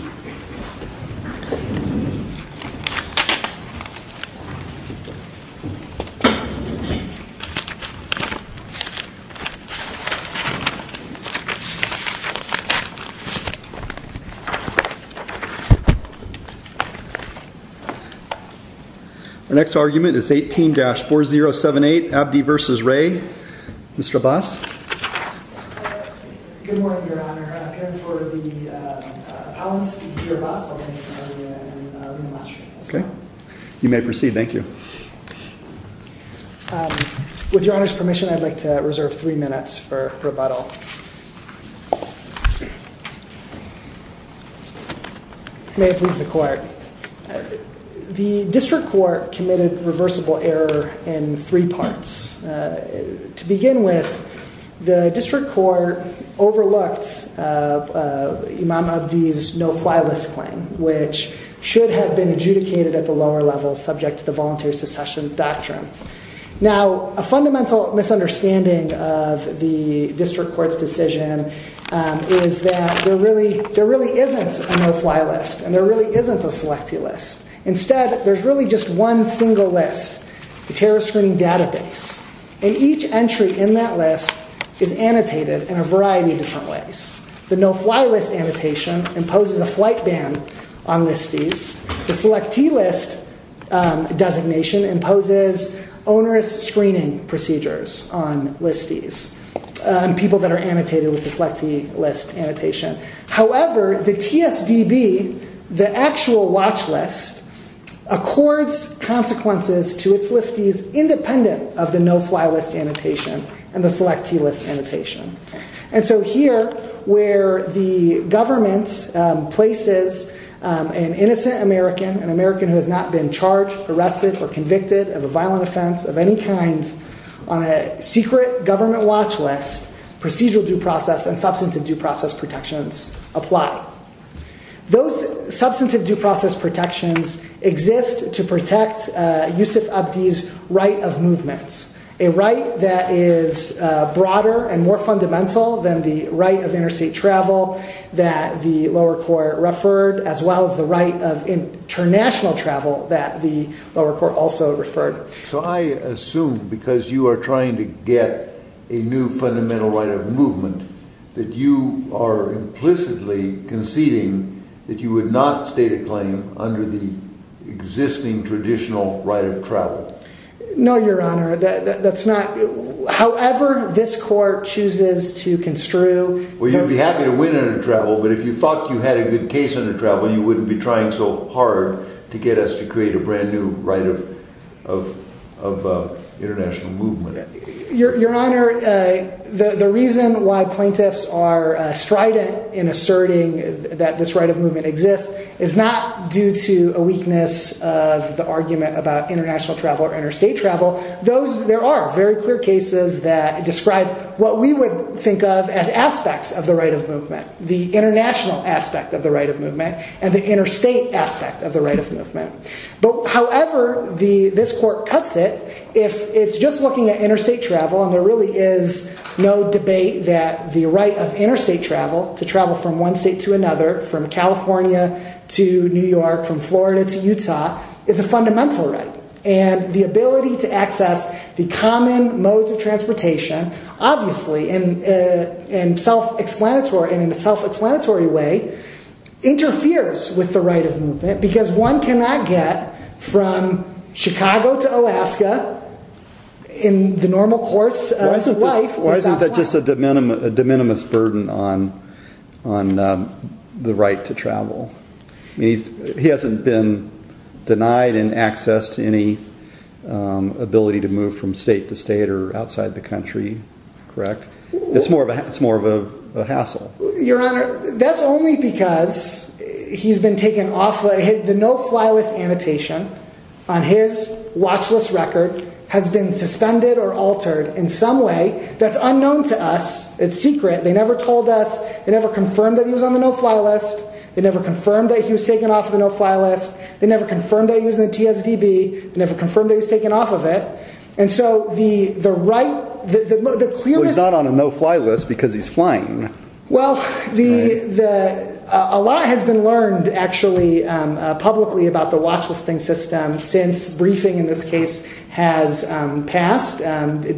Our next argument is 18-4078, Abdi v. Wray. Mr. Abbas? Good morning, Your Honor. I'm here for the appellant's seat here, Abbas. I'm going to be interviewing Lina Mastro. Okay. You may proceed. Thank you. With Your Honor's permission, I'd like to reserve three minutes for rebuttal. May it please the Court. The District Court committed reversible error in three parts. To begin with, the District Court overlooked Imam Abdi's no-fly list claim, which should have been adjudicated at the lower level subject to the voluntary secession doctrine. Now, a fundamental misunderstanding of the District Court's decision is that there really isn't a no-fly list and there really isn't a Selectee List. Instead, there's really just one single list, the Terrorist Screening Database, and each entry in that list is annotated in a variety of different ways. The no-fly list annotation imposes a flight ban on listees. The Selectee List designation imposes onerous screening procedures on listees, people that are annotated with the Selectee List annotation. However, the TSDB, the actual watch list, accords consequences to its listees independent of the no-fly list annotation and the Selectee List annotation. And so here, where the government places an innocent American, an American who has not been charged, arrested, or convicted of a violent offense of any kind, on a secret government watch list, procedural due process and substantive due process protections apply. Those substantive due process protections exist to protect Yusuf Abdi's right of movement, a right that is broader and more fundamental than the right of interstate travel that the lower court referred, as well as the right of international travel that the lower court also referred. So I assume, because you are trying to get a new fundamental right of movement, that you are implicitly conceding that you would not state a claim under the existing traditional right of travel. No, Your Honor, that's not... However this court chooses to construe... Well, you'd be happy to win under travel, but if you thought you had a good case under travel, you wouldn't be trying so hard to get us to create a brand new right of international movement. Your Honor, the reason why plaintiffs are strident in asserting that this right of movement exists is not due to a weakness of the argument about international travel or interstate travel. There are very clear cases that describe what we would think of as aspects of the right of movement, the international aspect of the right of movement and the interstate aspect of the right of movement. However, this court cuts it if it's just looking at interstate travel and there really is no debate that the right of interstate travel, to travel from one state to another, from California to New York, from Florida to Utah, is a fundamental right. And the ability to access the common modes of transportation, obviously in a self-explanatory way, interferes with the right of movement because one cannot get from Chicago to Alaska in the normal course of life... Why isn't that just a de minimis burden on the right to travel? He hasn't been denied access to any ability to move from state to state or outside the country, correct? It's more of a hassle. Your Honor, that's only because he's been taken off... The no-fly list annotation on his watch list record has been suspended or altered in some way that's unknown to us. It's secret. They never told us. They never confirmed that he was on the no-fly list. They never confirmed that he was taken off the no-fly list. They never confirmed that he was in the TSDB. They never confirmed that he was taken off of it. And so the right... Well, he's not on a no-fly list because he's flying. Well, a lot has been learned, actually, publicly about the watch-listing system since briefing, in this case, has passed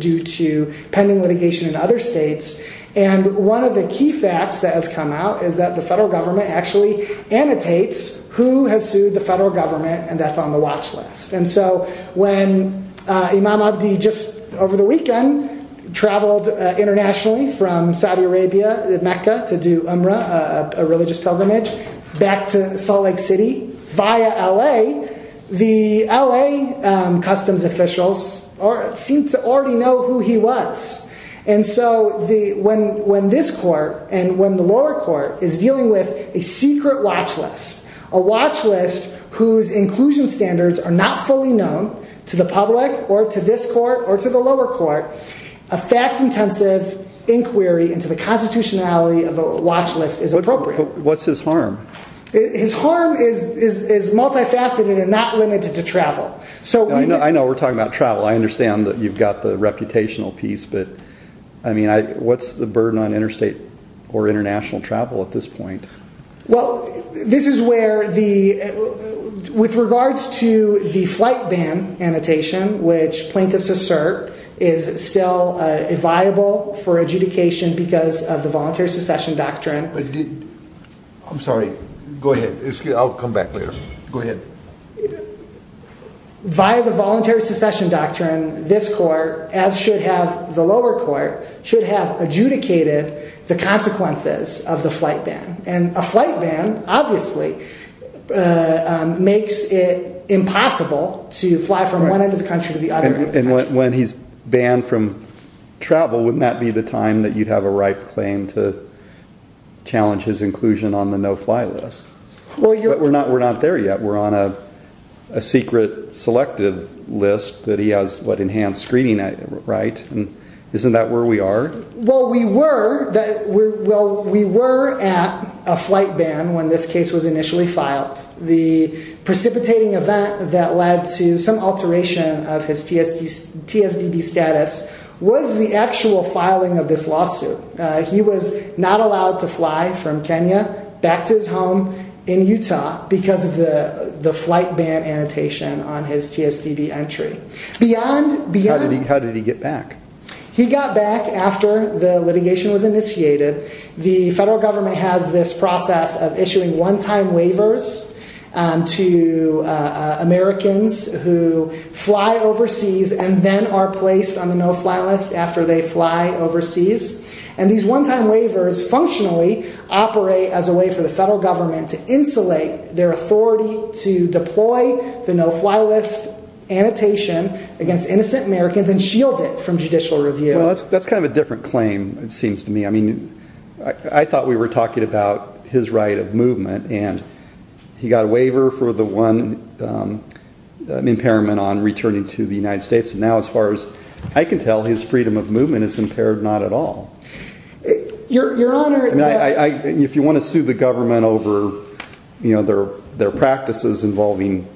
due to pending litigation in other states. And one of the key facts that has come out is that the federal government actually annotates who has sued the federal government, and that's on the watch list. And so when Imam Abdi, just over the weekend, traveled internationally from Saudi Arabia, Mecca, to do umrah, a religious pilgrimage, back to Salt Lake City via L.A., the L.A. customs officials seemed to already know who he was. And so when this court and when the lower court is dealing with a secret watch-list, a watch-list whose inclusion standards are not fully known to the public or to this court or to the lower court, a fact-intensive inquiry into the constitutionality of a watch-list is appropriate. But what's his harm? His harm is multifaceted and not limited to travel. I know we're talking about travel. I understand that you've got the reputational piece, but, I mean, what's the burden on interstate or international travel at this point? Well, this is where the, with regards to the flight ban annotation, which plaintiffs assert is still viable for adjudication because of the voluntary secession doctrine. I'm sorry. Go ahead. I'll come back later. Go ahead. Via the voluntary secession doctrine, this court, as should have the lower court, should have adjudicated the consequences of the flight ban. And a flight ban, obviously, makes it impossible to fly from one end of the country to the other. And when he's banned from travel, wouldn't that be the time that you'd have a ripe claim to challenge his inclusion on the no-fly list? But we're not there yet. We're on a secret selective list that he has, what, enhanced screening, right? Isn't that where we are? Well, we were at a flight ban when this case was initially filed. The precipitating event that led to some alteration of his TSDB status was the actual filing of this lawsuit. He was not allowed to fly from Kenya back to his home in Utah because of the flight ban annotation on his TSDB entry. How did he get back? He got back after the litigation was initiated. The federal government has this process of issuing one-time waivers to Americans who fly overseas and then are placed on the no-fly list after they fly overseas. And these one-time waivers functionally operate as a way for the federal government to insulate their authority to deploy the no-fly list annotation against innocent Americans and shield it from judicial review. Well, that's kind of a different claim, it seems to me. I mean, I thought we were talking about his right of movement, and he got a waiver for the one impairment on returning to the United States. Now, as far as I can tell, his freedom of movement is impaired not at all. Your Honor— If you want to sue the government over their practices involving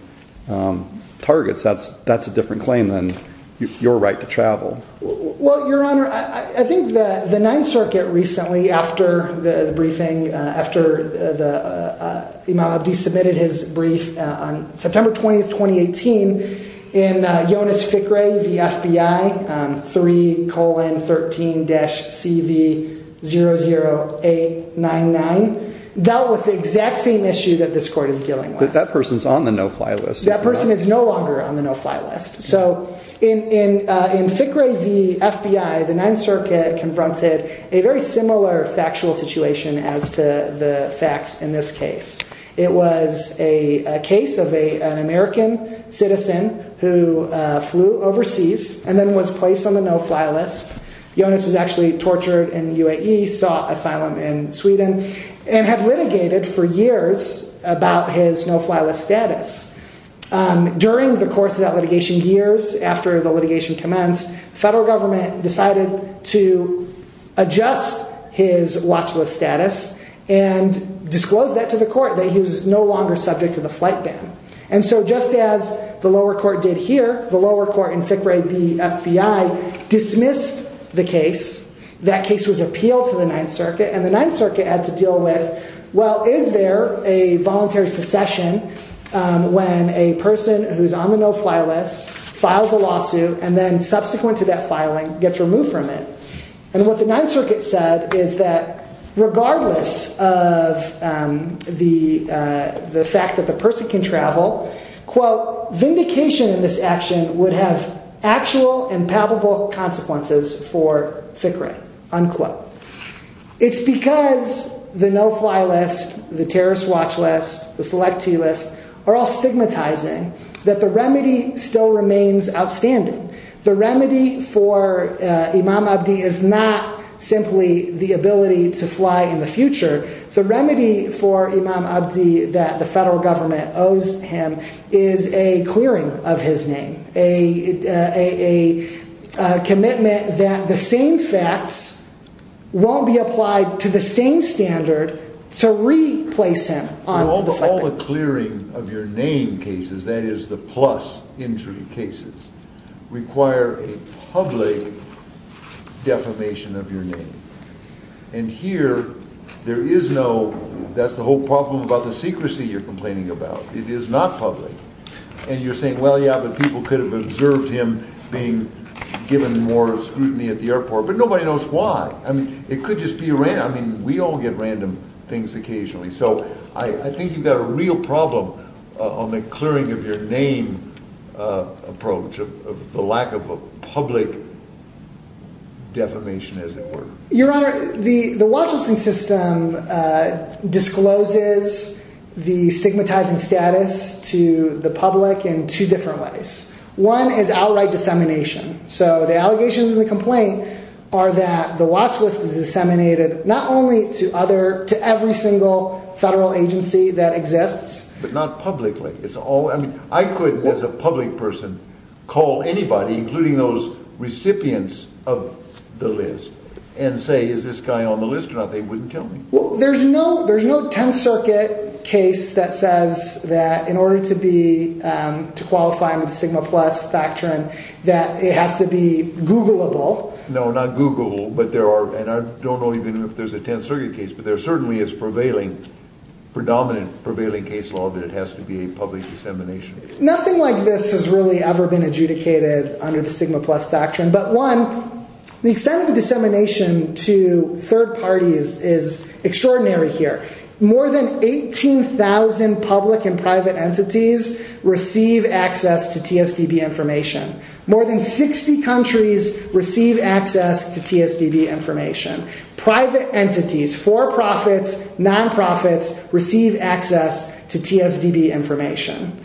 targets, that's a different claim than your right to travel. Well, Your Honor, I think the Ninth Circuit recently, after the briefing, after Imam Abdi submitted his brief on September 20, 2018, in Jonas Fikre v. FBI, 3,13-CV00899, dealt with the exact same issue that this court is dealing with. That person's on the no-fly list. That person is no longer on the no-fly list. So in Fikre v. FBI, the Ninth Circuit confronted a very similar factual situation as to the facts in this case. It was a case of an American citizen who flew overseas and then was placed on the no-fly list. Jonas was actually tortured in the UAE, sought asylum in Sweden, and had litigated for years about his no-fly list status. During the course of that litigation, years after the litigation commenced, the federal government decided to adjust his watch list status and disclose that to the court, that he was no longer subject to the flight ban. And so just as the lower court did here, the lower court in Fikre v. FBI dismissed the case. That case was appealed to the Ninth Circuit, and the Ninth Circuit had to deal with, well, is there a voluntary secession when a person who's on the no-fly list files a lawsuit and then, subsequent to that filing, gets removed from it? And what the Ninth Circuit said is that regardless of the fact that the person can travel, quote, vindication in this action would have actual and palpable consequences for Fikre, unquote. It's because the no-fly list, the terrorist watch list, the selectee list are all stigmatizing that the remedy still remains outstanding. The remedy for Imam Abdi is not simply the ability to fly in the future. The remedy for Imam Abdi that the federal government owes him is a clearing of his name. A commitment that the same facts won't be applied to the same standard to replace him. All the clearing of your name cases, that is the plus injury cases, require a public defamation of your name. And here there is no – that's the whole problem about the secrecy you're complaining about. It is not public. And you're saying, well, yeah, but people could have observed him being given more scrutiny at the airport. But nobody knows why. I mean, it could just be random. I mean, we all get random things occasionally. So I think you've got a real problem on the clearing of your name approach of the lack of a public defamation, as it were. Your Honor, the watch listing system discloses the stigmatizing status to the public in two different ways. One is outright dissemination. So the allegations in the complaint are that the watch list is disseminated not only to other – to every single federal agency that exists. But not publicly. I mean, I could, as a public person, call anybody, including those recipients of the list, and say, is this guy on the list or not? They wouldn't tell me. Well, there's no – there's no Tenth Circuit case that says that in order to be – to qualify under the Sigma Plus Factor, that it has to be Google-able. No, not Google-able. But there are – and I don't know even if there's a Tenth Circuit case. But there certainly is prevailing – predominant, prevailing case law that it has to be a public dissemination. Nothing like this has really ever been adjudicated under the Sigma Plus Factor. But one, the extent of the dissemination to third parties is extraordinary here. More than 18,000 public and private entities receive access to TSDB information. More than 60 countries receive access to TSDB information. Private entities, for-profits, non-profits, receive access to TSDB information.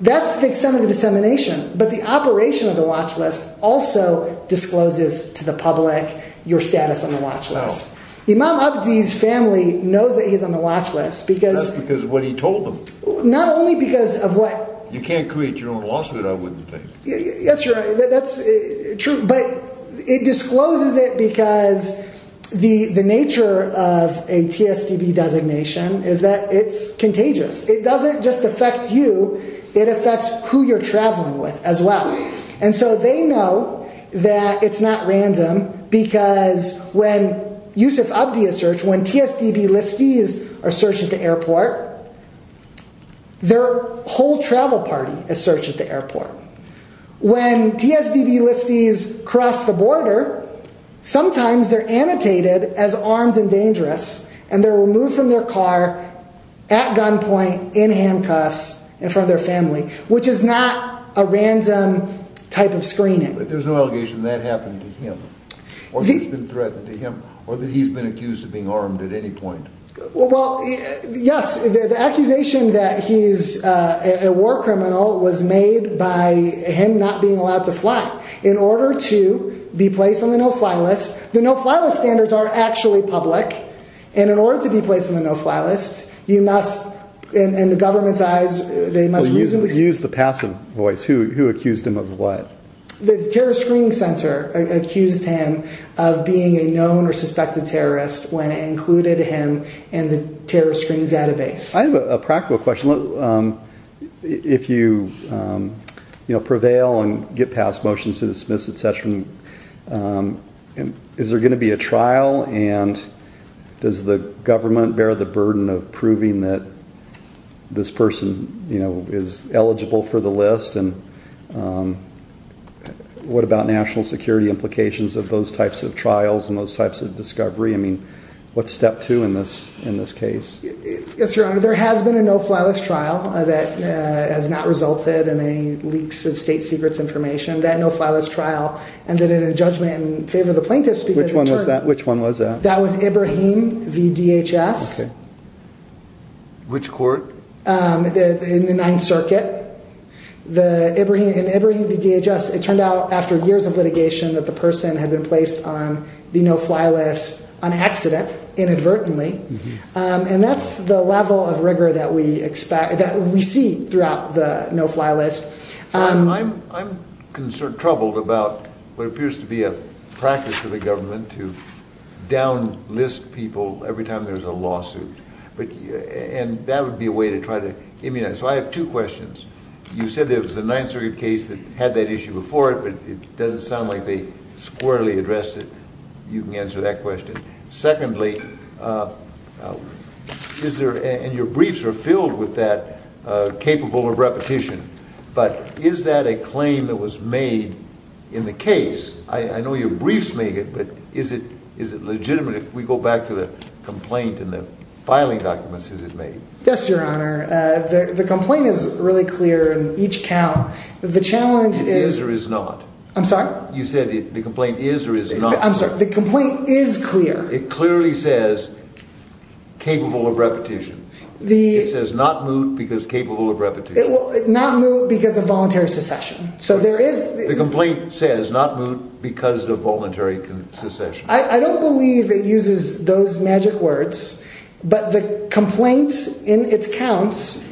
That's the extent of the dissemination. But the operation of the watch list also discloses to the public your status on the watch list. Imam Abdi's family knows that he's on the watch list because – Not because of what he told them. Not only because of what – You can't create your own lawsuit, I wouldn't think. Yes, you're right. That's true. But it discloses it because the nature of a TSDB designation is that it's contagious. It doesn't just affect you, it affects who you're traveling with as well. And so they know that it's not random because when Yusuf Abdi is searched, when TSDB listees are searched at the airport, their whole travel party is searched at the airport. When TSDB listees cross the border, sometimes they're annotated as armed and dangerous and they're removed from their car at gunpoint in handcuffs in front of their family, which is not a random type of screening. But there's no allegation that that happened to him, or he's been threatened to him, or that he's been accused of being armed at any point. Well, yes, the accusation that he's a war criminal was made by him not being allowed to fly. In order to be placed on the no-fly list, the no-fly list standards aren't actually public, and in order to be placed on the no-fly list, you must, in the government's eyes, they must reasonably... Use the passive voice. Who accused him of what? The Terrorist Screening Center accused him of being a known or suspected terrorist when it included him in the Terrorist Screening Database. I have a practical question. If you prevail and get past motions to dismiss, etc., is there going to be a trial, and does the government bear the burden of proving that this person is eligible for the list, and what about national security implications of those types of trials and those types of discovery? I mean, what's step two in this case? Yes, Your Honor, there has been a no-fly list trial that has not resulted in any leaks of state secrets information. That no-fly list trial ended in a judgment in favor of the plaintiffs because... Which one was that? Which one was that? That was Ibrahim v. DHS. Okay. Which court? In the Ninth Circuit. In Ibrahim v. DHS, it turned out after years of litigation that the person had been placed on the no-fly list on accident, inadvertently. And that's the level of rigor that we see throughout the no-fly list. I'm troubled about what appears to be a practice of the government to down-list people every time there's a lawsuit, and that would be a way to try to immunize. So I have two questions. You said there was a Ninth Circuit case that had that issue before it, but it doesn't sound like they squarely addressed it. You can answer that question. Secondly, and your briefs are filled with that capable of repetition, but is that a claim that was made in the case? I know your briefs make it, but is it legitimate if we go back to the complaint and the filing documents, is it made? Yes, Your Honor. The complaint is really clear in each count. The challenge is... It is or is not? I'm sorry? You said the complaint is or is not. I'm sorry. The complaint is clear. It clearly says capable of repetition. It says not moot because capable of repetition. Not moot because of voluntary secession. So there is... The complaint says not moot because of voluntary secession. I don't believe it uses those magic words, but the complaint in its counts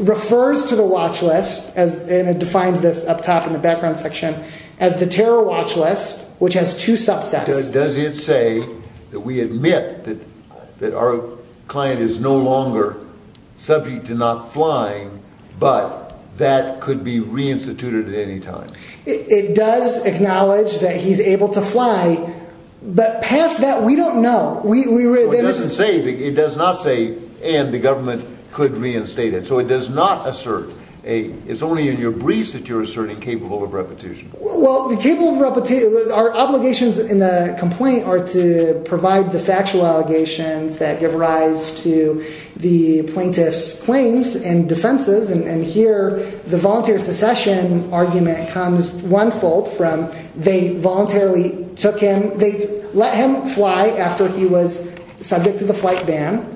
refers to the watch list, and it defines this up top in the background section, as the terror watch list, which has two subsets. Does it say that we admit that our client is no longer subject to not flying, but that could be reinstituted at any time? It does acknowledge that he's able to fly, but past that we don't know. So it doesn't say, it does not say, and the government could reinstate it. So it does not assert a... It's only in your briefs that you're asserting capable of repetition. Well, the capable of repetition... Our obligations in the complaint are to provide the factual allegations that give rise to the plaintiff's claims and defenses, and here the voluntary secession argument comes one-fold from they voluntarily took him. They let him fly after he was subject to the flight ban,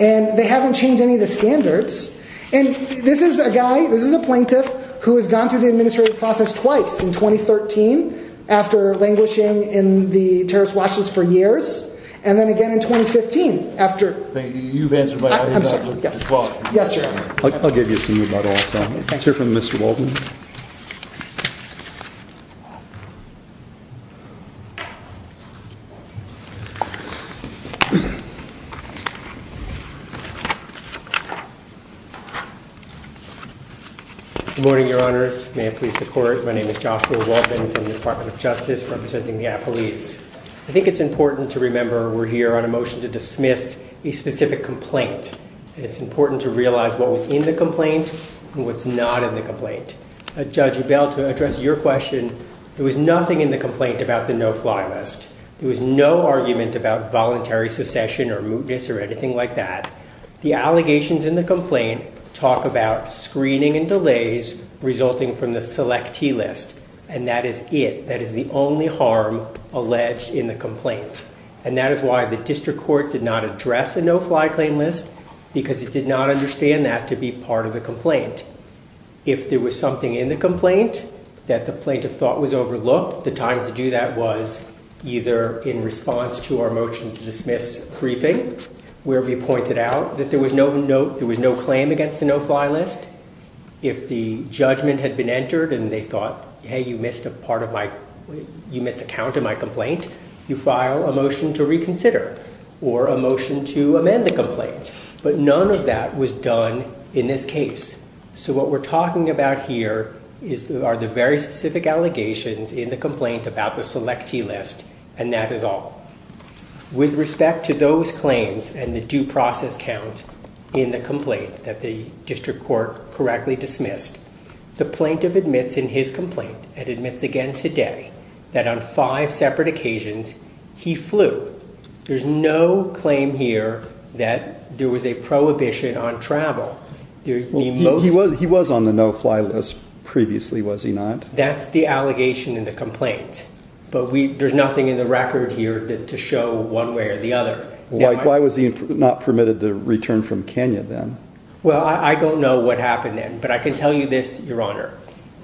and they haven't changed any of the standards. And this is a guy, this is a plaintiff, who has gone through the administrative process twice, in 2013 after languishing in the terrorist watch list for years, and then again in 2015 after... Thank you. You've answered my question as well. Yes, sir. I'll give you some of that also. Let's hear from Mr. Waldman. Good morning, Your Honors. May it please the Court. My name is Joshua Waldman from the Department of Justice representing the apolice. I think it's important to remember we're here on a motion to dismiss a specific complaint. It's important to realize what was in the complaint and what's not in the complaint. Judge Rebell, to address your question, there was nothing in the complaint about the no-fly list. There was no argument about voluntary secession or mootness or anything like that. The allegations in the complaint talk about screening and delays resulting from the selectee list, and that is it. That is the only harm alleged in the complaint. And that is why the district court did not address a no-fly claim list, because it did not understand that to be part of the complaint. If there was something in the complaint that the plaintiff thought was overlooked, the time to do that was either in response to our motion to dismiss briefing, where we pointed out that there was no claim against the no-fly list. If the judgment had been entered and they thought, hey, you missed a count in my complaint, you file a motion to reconsider or a motion to amend the complaint. But none of that was done in this case. So what we're talking about here are the very specific allegations in the complaint about the selectee list, and that is all. With respect to those claims and the due process count in the complaint that the district court correctly dismissed, the plaintiff admits in his complaint and admits again today that on five separate occasions he flew. There's no claim here that there was a prohibition on travel. He was on the no-fly list previously, was he not? That's the allegation in the complaint. But there's nothing in the record here to show one way or the other. Why was he not permitted to return from Kenya then? Well, I don't know what happened then, but I can tell you this, Your Honor.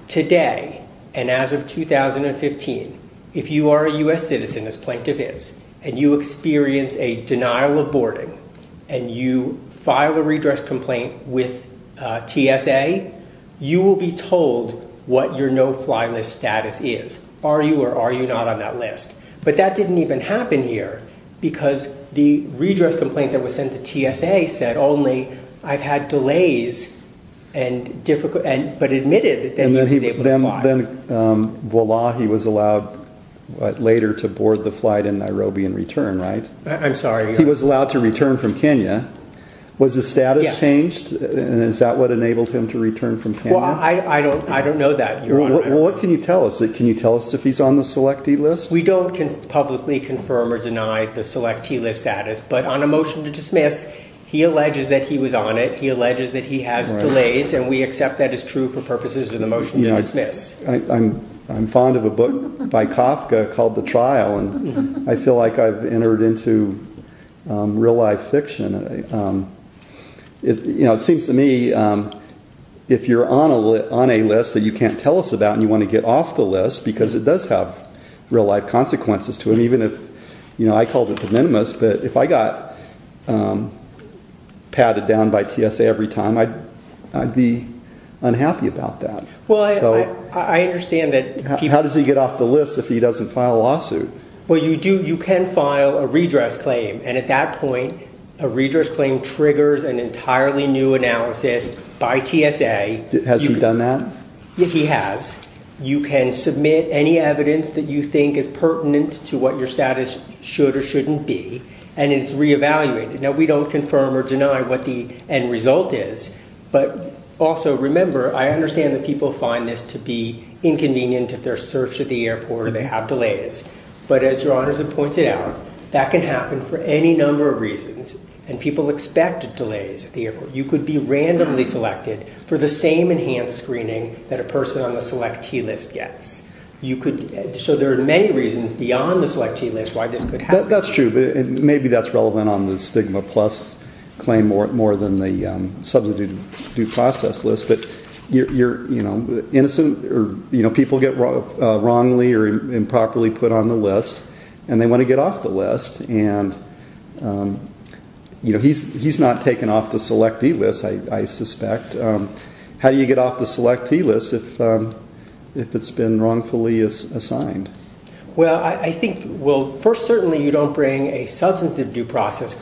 Today and as of 2015, if you are a U.S. citizen, as plaintiff is, and you experience a denial of boarding and you file a redress complaint with TSA, you will be told what your no-fly list status is. Are you or are you not on that list? But that didn't even happen here because the redress complaint that was sent to TSA said only I've had delays but admitted that he was able to fly. And then voila, he was allowed later to board the flight in Nairobi and return, right? I'm sorry. He was allowed to return from Kenya. Was the status changed? Is that what enabled him to return from Kenya? Well, I don't know that, Your Honor. What can you tell us? Can you tell us if he's on the selectee list? We don't publicly confirm or deny the selectee list status, but on a motion to dismiss, he alleges that he was on it, he alleges that he has delays, and we accept that as true for purposes of the motion to dismiss. I'm fond of a book by Kafka called The Trial, and I feel like I've entered into real-life fiction. It seems to me if you're on a list that you can't tell us about and you want to get off the list, because it does have real-life consequences to it, even if I called it de minimis, but if I got patted down by TSA every time, I'd be unhappy about that. How does he get off the list if he doesn't file a lawsuit? Well, you can file a redress claim, and at that point a redress claim triggers an entirely new analysis by TSA. Has he done that? He has. You can submit any evidence that you think is pertinent to what your status should or shouldn't be, and it's reevaluated. Now, we don't confirm or deny what the end result is, but also remember I understand that people find this to be inconvenient if they're searched at the airport or they have delays, but as your honors have pointed out, that can happen for any number of reasons, and people expect delays at the airport. You could be randomly selected for the same enhanced screening that a person on the selectee list gets. So there are many reasons beyond the selectee list why this could happen. That's true, and maybe that's relevant on the stigma plus claim more than the substitute due process list, but people get wrongly or improperly put on the list, and they want to get off the list, and he's not taken off the selectee list, I suspect. How do you get off the selectee list if it's been wrongfully assigned? Well, first, certainly you don't bring a substantive due process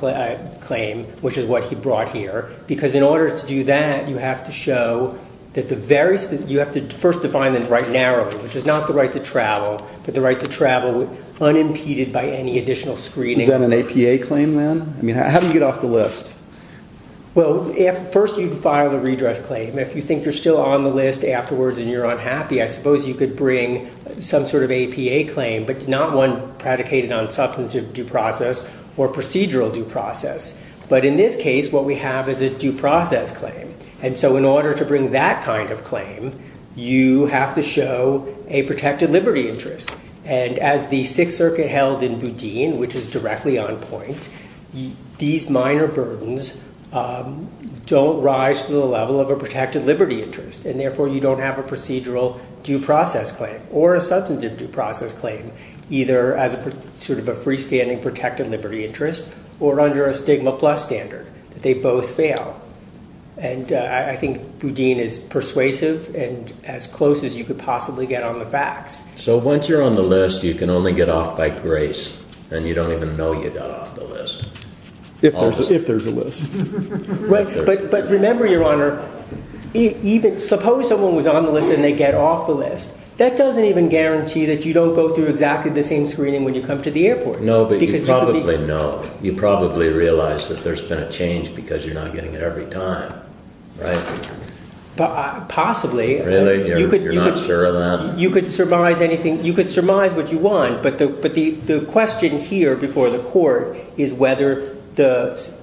claim, which is what he brought here, because in order to do that you have to first define the right narrowly, which is not the right to travel, but the right to travel unimpeded by any additional screening. Is that an APA claim then? How do you get off the list? Well, first you'd file the redress claim. If you think you're still on the list afterwards and you're unhappy, I suppose you could bring some sort of APA claim, but not one predicated on substantive due process or procedural due process. But in this case, what we have is a due process claim, and so in order to bring that kind of claim, you have to show a protected liberty interest, and as the Sixth Circuit held in Boudin, which is directly on point, these minor burdens don't rise to the level of a protected liberty interest, and therefore you don't have a procedural due process claim or a substantive due process claim, either as sort of a freestanding protected liberty interest or under a stigma plus standard. They both fail. And I think Boudin is persuasive and as close as you could possibly get on the facts. So once you're on the list, you can only get off by grace, and you don't even know you got off the list. If there's a list. But remember, Your Honor, suppose someone was on the list and they get off the list. That doesn't even guarantee that you don't go through exactly the same screening when you come to the airport. No, but you probably know. You probably realize that there's been a change because you're not getting it every time, right? Possibly. Really? You're not sure of that? You could surmise anything. You could surmise what you want, but the question here before the court is whether the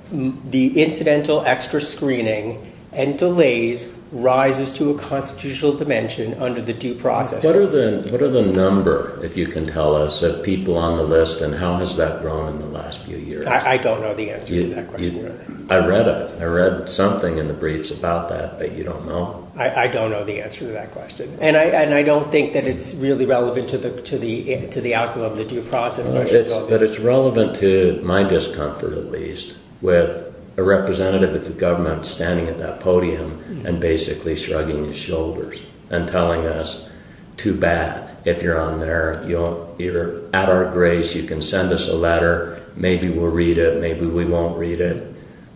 incidental extra screening and delays rises to a constitutional dimension under the due process. What are the number, if you can tell us, of people on the list, and how has that grown in the last few years? I don't know the answer to that question. I read it. I read something in the briefs about that that you don't know. I don't know the answer to that question. And I don't think that it's really relevant to the outcome of the due process. But it's relevant to my discomfort, at least, with a representative of the government standing at that podium and basically shrugging his shoulders and telling us, too bad if you're on there. You're at our grace. You can send us a letter. Maybe we'll read it. Maybe we won't read it.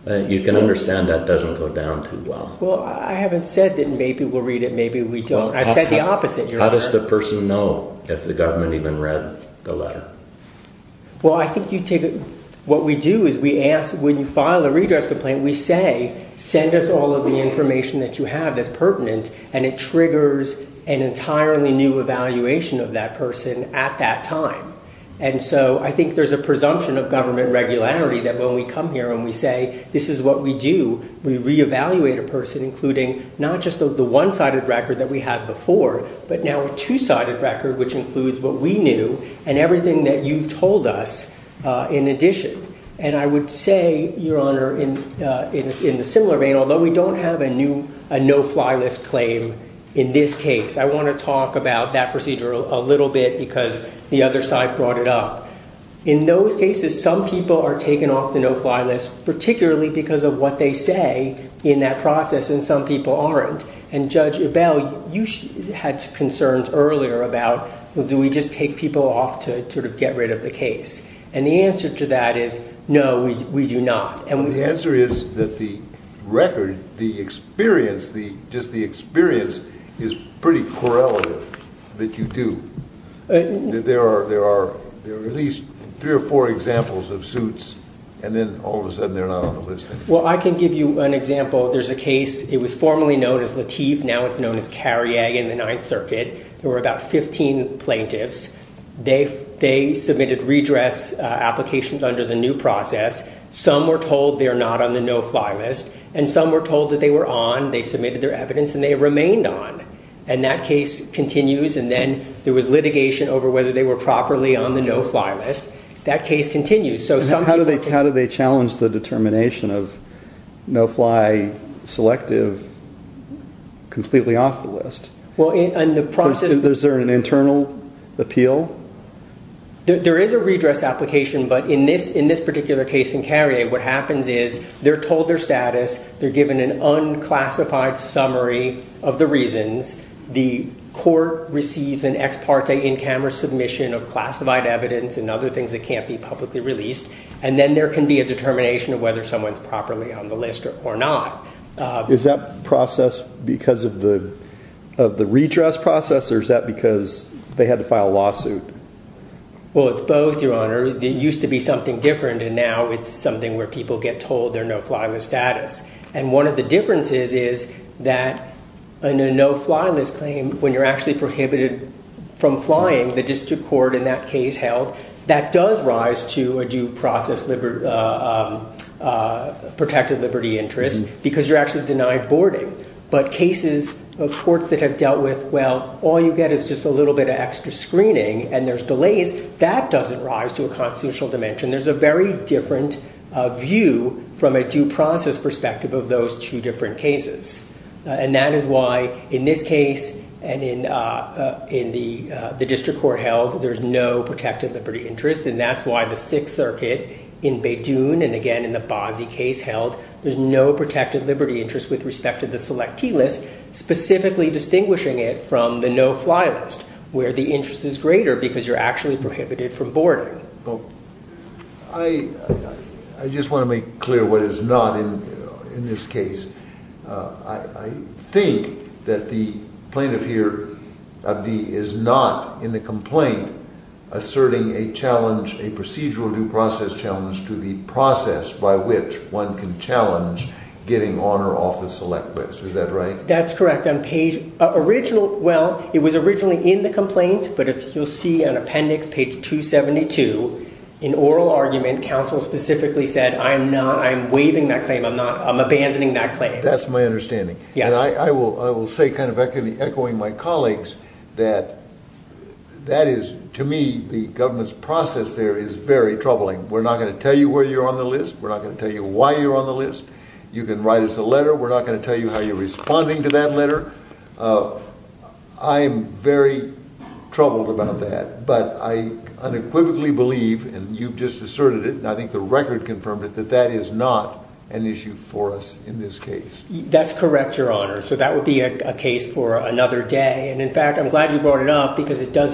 You can understand that doesn't go down too well. Well, I haven't said that maybe we'll read it, maybe we don't. I've said the opposite. How does the person know if the government even read the letter? Well, I think you take it, what we do is we ask, when you file a redress complaint, we say, send us all of the information that you have that's pertinent, and it triggers an entirely new evaluation of that person at that time. And so I think there's a presumption of government regularity that when we come here and we say, this is what we do, we reevaluate a person, including not just the one-sided record that we had before, but now a two-sided record, which includes what we knew and everything that you've told us in addition. And I would say, Your Honor, in a similar vein, although we don't have a no-fly list claim in this case, I want to talk about that procedure a little bit because the other side brought it up. In those cases, some people are taken off the no-fly list, particularly because of what they say in that process, and some people aren't. And, Judge Ebel, you had concerns earlier about, well, do we just take people off to sort of get rid of the case? And the answer to that is, no, we do not. The answer is that the record, the experience, just the experience is pretty correlative that you do. There are at least three or four examples of suits, and then all of a sudden they're not on the list anymore. Well, I can give you an example. There's a case, it was formerly known as Lateef, now it's known as Carrier in the Ninth Circuit. There were about 15 plaintiffs. They submitted redress applications under the new process. Some were told they're not on the no-fly list, and some were told that they were on, they submitted their evidence, and they remained on. And that case continues, and then there was litigation over whether they were properly on the no-fly list. That case continues. How do they challenge the determination of no-fly, selective, completely off the list? Is there an internal appeal? There is a redress application, but in this particular case in Carrier, what happens is they're told their status, they're given an unclassified summary of the reasons, the court receives an ex parte in-camera submission of classified evidence and other things that can't be publicly released, and then there can be a determination of whether someone's properly on the list or not. Is that process because of the redress process, Well, it's both, Your Honor. It used to be something different, and now it's something where people get told their no-fly list status. And one of the differences is that in a no-fly list claim, when you're actually prohibited from flying, the district court in that case held, that does rise to a due process protected liberty interest because you're actually denied boarding. But cases of courts that have dealt with, well, all you get is just a little bit of extra screening and there's delays, that doesn't rise to a constitutional dimension. There's a very different view from a due process perspective of those two different cases. And that is why in this case and in the district court held, there's no protected liberty interest, and that's why the Sixth Circuit in Beidoune and again in the Bozzi case held, there's no protected liberty interest with respect to the selectee list, specifically distinguishing it from the no-fly list where the interest is greater because you're actually prohibited from boarding. I just want to make clear what is not in this case. I think that the plaintiff here is not in the complaint asserting a challenge, a procedural due process challenge to the process by which one can challenge getting on or off the select list. Is that right? That's correct. Well, it was originally in the complaint, but if you'll see on appendix page 272, in oral argument, counsel specifically said, I'm not, I'm waiving that claim. I'm abandoning that claim. That's my understanding. And I will say kind of echoing my colleagues that that is to me the government's process there is very troubling. We're not going to tell you where you're on the list. We're not going to tell you why you're on the list. You can write us a letter. We're not going to tell you how you're responding to that letter. I'm very troubled about that, but I unequivocally believe, and you've just asserted it, and I think the record confirmed it, that that is not an issue for us in this case. That's correct, Your Honor. So that would be a case for another day. And in fact, I'm glad you brought it up because it does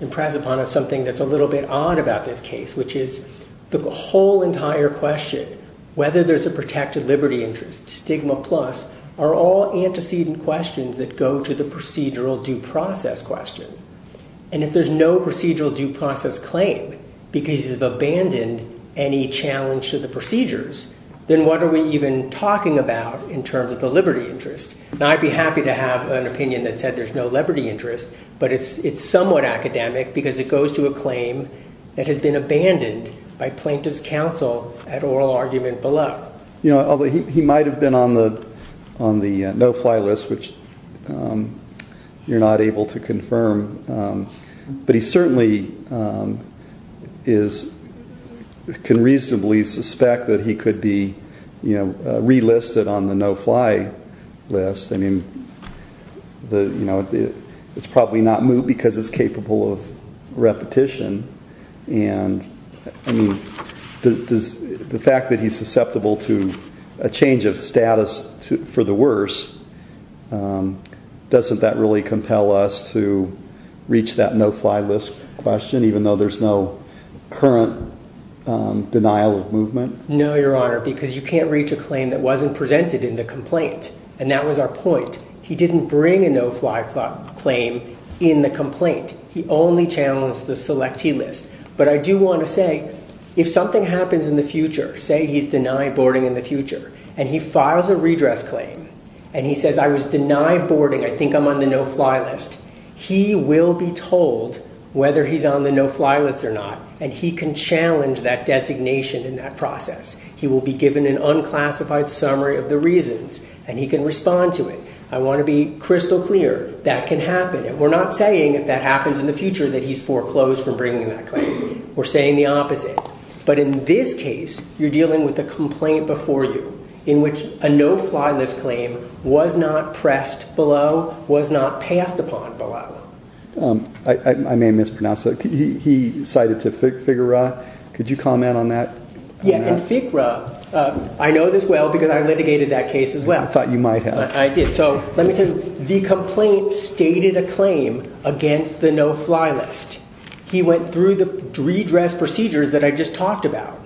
impress upon us something that's a little bit odd about this case, which is the whole entire question, whether there's a protected liberty interest, stigma plus, are all antecedent questions that go to the procedural due process question. And if there's no procedural due process claim because you've abandoned any challenge to the procedures, then what are we even talking about in terms of the liberty interest? And I'd be happy to have an opinion that said there's no liberty interest, but it's somewhat academic because it goes to a claim that has been abandoned by plaintiff's counsel at oral argument below. Although he might have been on the no-fly list, which you're not able to confirm, but he certainly can reasonably suspect that he could be relisted on the no-fly list. I mean, it's probably not moot because it's capable of repetition. I mean, the fact that he's susceptible to a change of status for the worse, doesn't that really compel us to reach that no-fly list question even though there's no current denial of movement? No, Your Honor, because you can't reach a claim that wasn't presented in the complaint, and that was our point. He didn't bring a no-fly claim in the complaint. He only challenged the selectee list. But I do want to say, if something happens in the future, say he's denied boarding in the future, and he files a redress claim, and he says, I was denied boarding, I think I'm on the no-fly list, he will be told whether he's on the no-fly list or not, and he can challenge that designation in that process. He will be given an unclassified summary of the reasons, and he can respond to it. I want to be crystal clear, that can happen. We're not saying if that happens in the future that he's foreclosed from bringing that claim. We're saying the opposite. But in this case, you're dealing with a complaint before you in which a no-fly list claim was not pressed below, was not passed upon below. I may have mispronounced that. He cited to FIGRA. Could you comment on that? Yeah, and FIGRA, I know this well because I litigated that case as well. I thought you might have. I did. The complaint stated a claim against the no-fly list. He went through the redress procedures that I just talked about,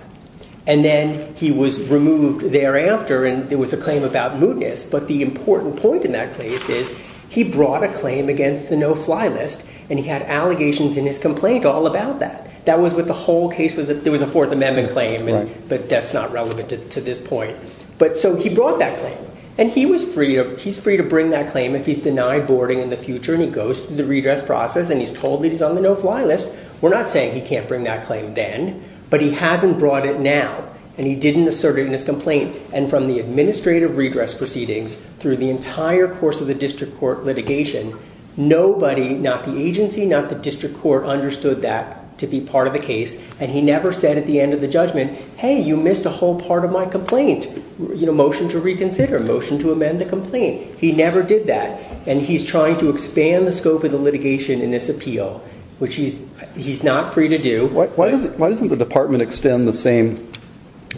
and then he was removed thereafter, and there was a claim about mootness. But the important point in that case is he brought a claim against the no-fly list, and he had allegations in his complaint all about that. That was what the whole case was. There was a Fourth Amendment claim, but that's not relevant to this point. So he brought that claim, and he's free to bring that claim if he's denied boarding in the future and he goes through the redress process and he's told that he's on the no-fly list. We're not saying he can't bring that claim then, but he hasn't brought it now, and he didn't assert it in his complaint. And from the administrative redress proceedings through the entire course of the district court litigation, nobody, not the agency, not the district court, understood that to be part of the case, and he never said at the end of the judgment, hey, you missed a whole part of my complaint. Motion to reconsider, motion to amend the complaint. He never did that, and he's trying to expand the scope of the litigation in this appeal, which he's not free to do. Why doesn't the department extend the same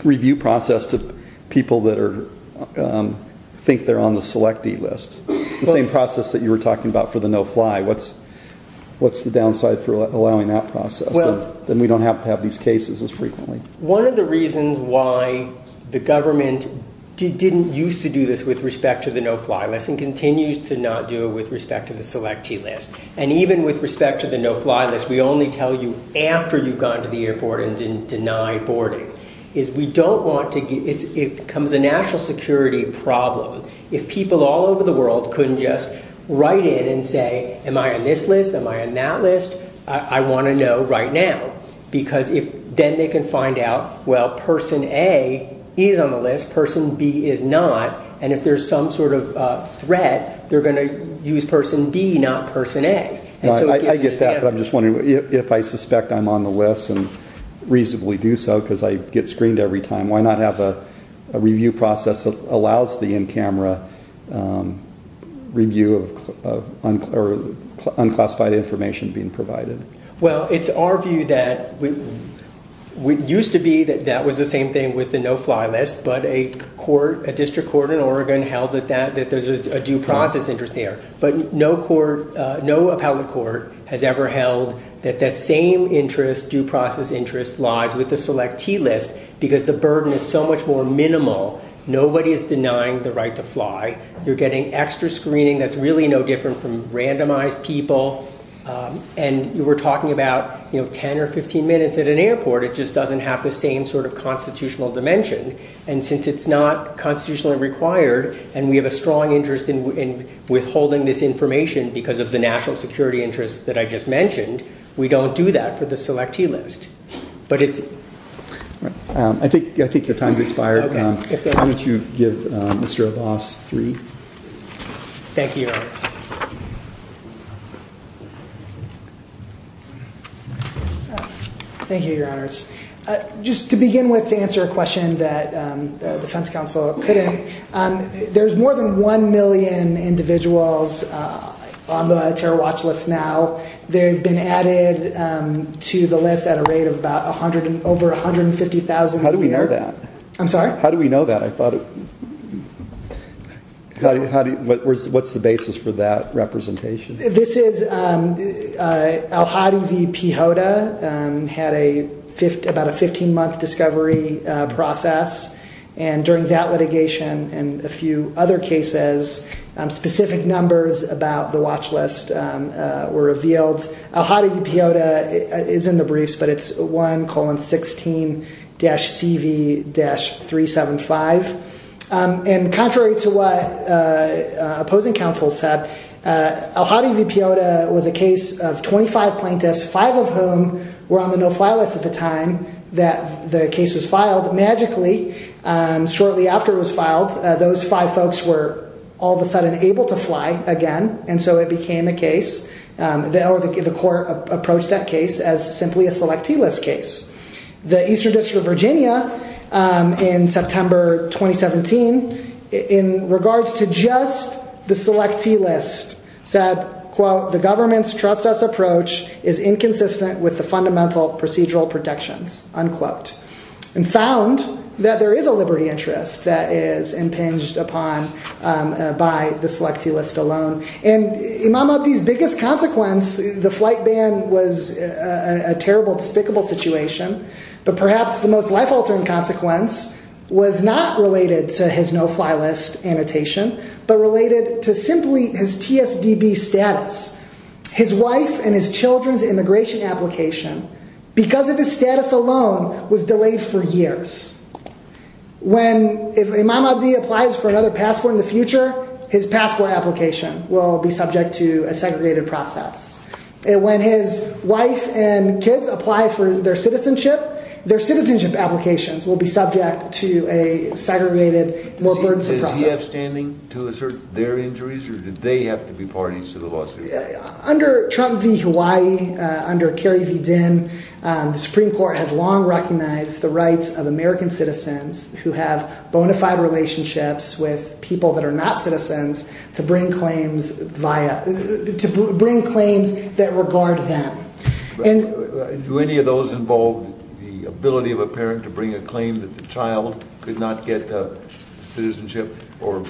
review process to people that think they're on the selectee list? The same process that you were talking about for the no-fly. What's the downside for allowing that process? Then we don't have to have these cases as frequently. One of the reasons why the government didn't used to do this with respect to the no-fly list and continues to not do it with respect to the selectee list, and even with respect to the no-fly list, we only tell you after you've gone to the airport and didn't deny boarding, is we don't want to... It becomes a national security problem if people all over the world couldn't just write in and say, am I on this list, am I on that list? I want to know right now, because then they can find out, well, person A is on the list, person B is not, and if there's some sort of threat, they're going to use person B, not person A. I get that, but I'm just wondering, if I suspect I'm on the list and reasonably do so because I get screened every time, why not have a review process that allows the in-camera review of unclassified information being provided? Well, it's our view that it used to be that that was the same thing with the no-fly list, but a district court in Oregon held that there's a due process interest there, but no appellate court has ever held that that same interest, due process interest, lies with the selectee list because the burden is so much more minimal. Nobody is denying the right to fly. You're getting extra screening that's really no different from randomized people, and we're talking about 10 or 15 minutes at an airport. It just doesn't have the same sort of constitutional dimension, and since it's not constitutionally required and we have a strong interest in withholding this information because of the national security interests that I just mentioned, we don't do that for the selectee list. I think your time's expired. Thank you, Your Honors. Thank you, Your Honors. Just to begin with, to answer a question that the defense counsel put in, there's more than one million individuals on the TerraWatch list now. They've been added to the list at a rate of over 150,000 a year. How do we know that? I'm sorry? How do we know that? What's the basis for that representation? This is Al-Hadi v. Pehota had about a 15-month discovery process, and during that litigation and a few other cases, specific numbers about the watch list were revealed. Al-Hadi v. Pehota is in the briefs, but it's 1,16-CV-375. And contrary to what opposing counsel said, Al-Hadi v. Pehota was a case of 25 plaintiffs, five of whom were on the no-fly list at the time that the case was filed. Magically, shortly after it was filed, those five folks were all of a sudden able to fly again, and so it became a case. The court approached that case as simply a selectee list case. The Eastern District of Virginia, in September 2017, in regards to just the selectee list, said, quote, the government's trust us approach is inconsistent with the fundamental procedural protections, unquote, and found that there is a liberty interest that is impinged upon by the selectee list alone. And Imam Abdi's biggest consequence, the flight ban was a terrible, despicable situation, but perhaps the most life-altering consequence was not related to his no-fly list annotation, but related to simply his TSDB status. His wife and his children's immigration application, because of his status alone, was delayed for years. When, if Imam Abdi applies for another passport in the future, his passport application will be subject to a segregated process. And when his wife and kids apply for their citizenship, their citizenship applications will be subject to a segregated, more burdensome process. Is he abstaining to assert their injuries, or did they have to be parties to the lawsuit? Under Trump v. Hawaii, under Kerry v. Dinh, the Supreme Court has long recognized the rights of American citizens who have bona fide relationships with people that are not citizens to bring claims that regard them. Do any of those involve the ability of a parent to bring a claim that the child could not get citizenship or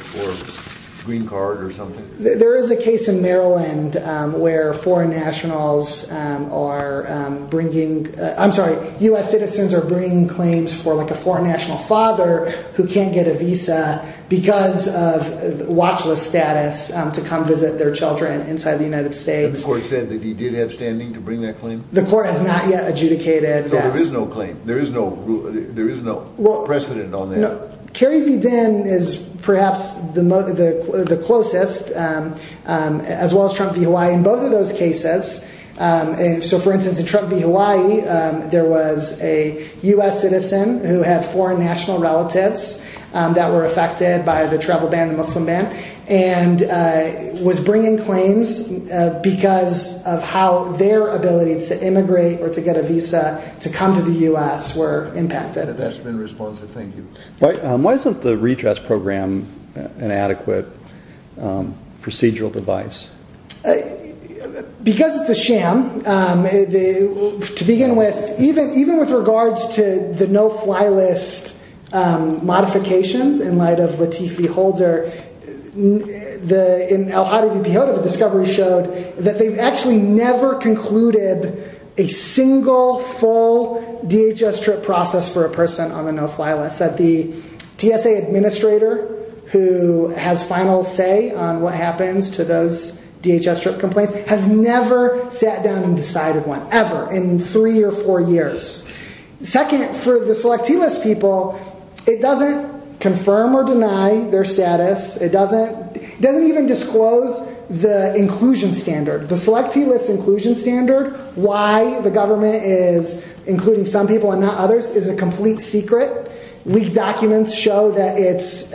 green card or something? There is a case in Maryland where foreign nationals are bringing, I'm sorry, U.S. citizens are bringing claims for like a foreign national father who can't get a visa because of watch list status to come visit their children inside the United States. And the court said that he did have standing to bring that claim? The court has not yet adjudicated, yes. So there is no claim? There is no precedent on that? Kerry v. Dinh is perhaps the closest, as well as Trump v. Hawaii. In both of those cases, so for instance, in Trump v. Hawaii, there was a U.S. citizen who had foreign national relatives that were affected by the travel ban, the Muslim ban, and was bringing claims because of how their ability to immigrate or to get a visa to come to the U.S. were impacted. That's been responsive, thank you. Why isn't the redress program an adequate procedural device? Because it's a sham. To begin with, even with regards to the no-fly list modifications in light of Latifi Holder, in El Jadid v. Pehota, the discovery showed that they've actually never concluded a single, full DHS trip process for a person on the no-fly list, that the TSA administrator who has final say on what happens to those DHS trip complaints has never sat down and decided one, ever, in three or four years. Second, for the selectivist people, it doesn't confirm or deny their status. It doesn't even disclose the inclusion standard. The selectivist inclusion standard, why the government is including some people and not others, is a complete secret. Leaked documents show that it's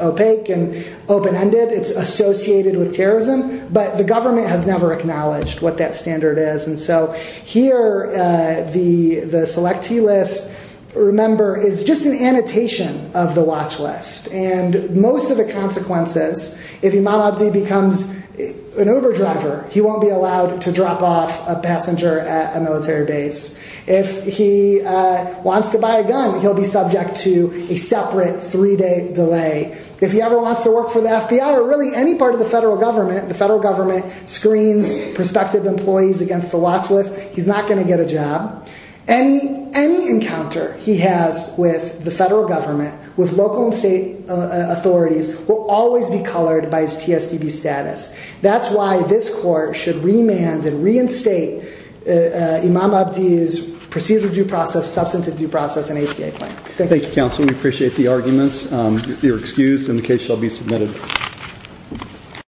opaque and open-ended. It's associated with terrorism, but the government has never acknowledged what that standard is. Here, the selectivist, remember, is just an annotation of the watch list. Most of the consequences, if Imam Abdi becomes an Uber driver, he won't be allowed to drop off a passenger at a military base. If he wants to buy a gun, he'll be subject to a separate three-day delay. If he ever wants to work for the FBI or really any part of the federal government, the federal government screens prospective employees against the watch list, he's not going to get a job. Any encounter he has with the federal government, with local and state authorities, will always be colored by his TSTB status. That's why this court should remand and reinstate Imam Abdi's procedural due process, substantive due process, and APA claim. Thank you. Thank you, counsel. We appreciate the arguments. You're excused, and the case shall be submitted.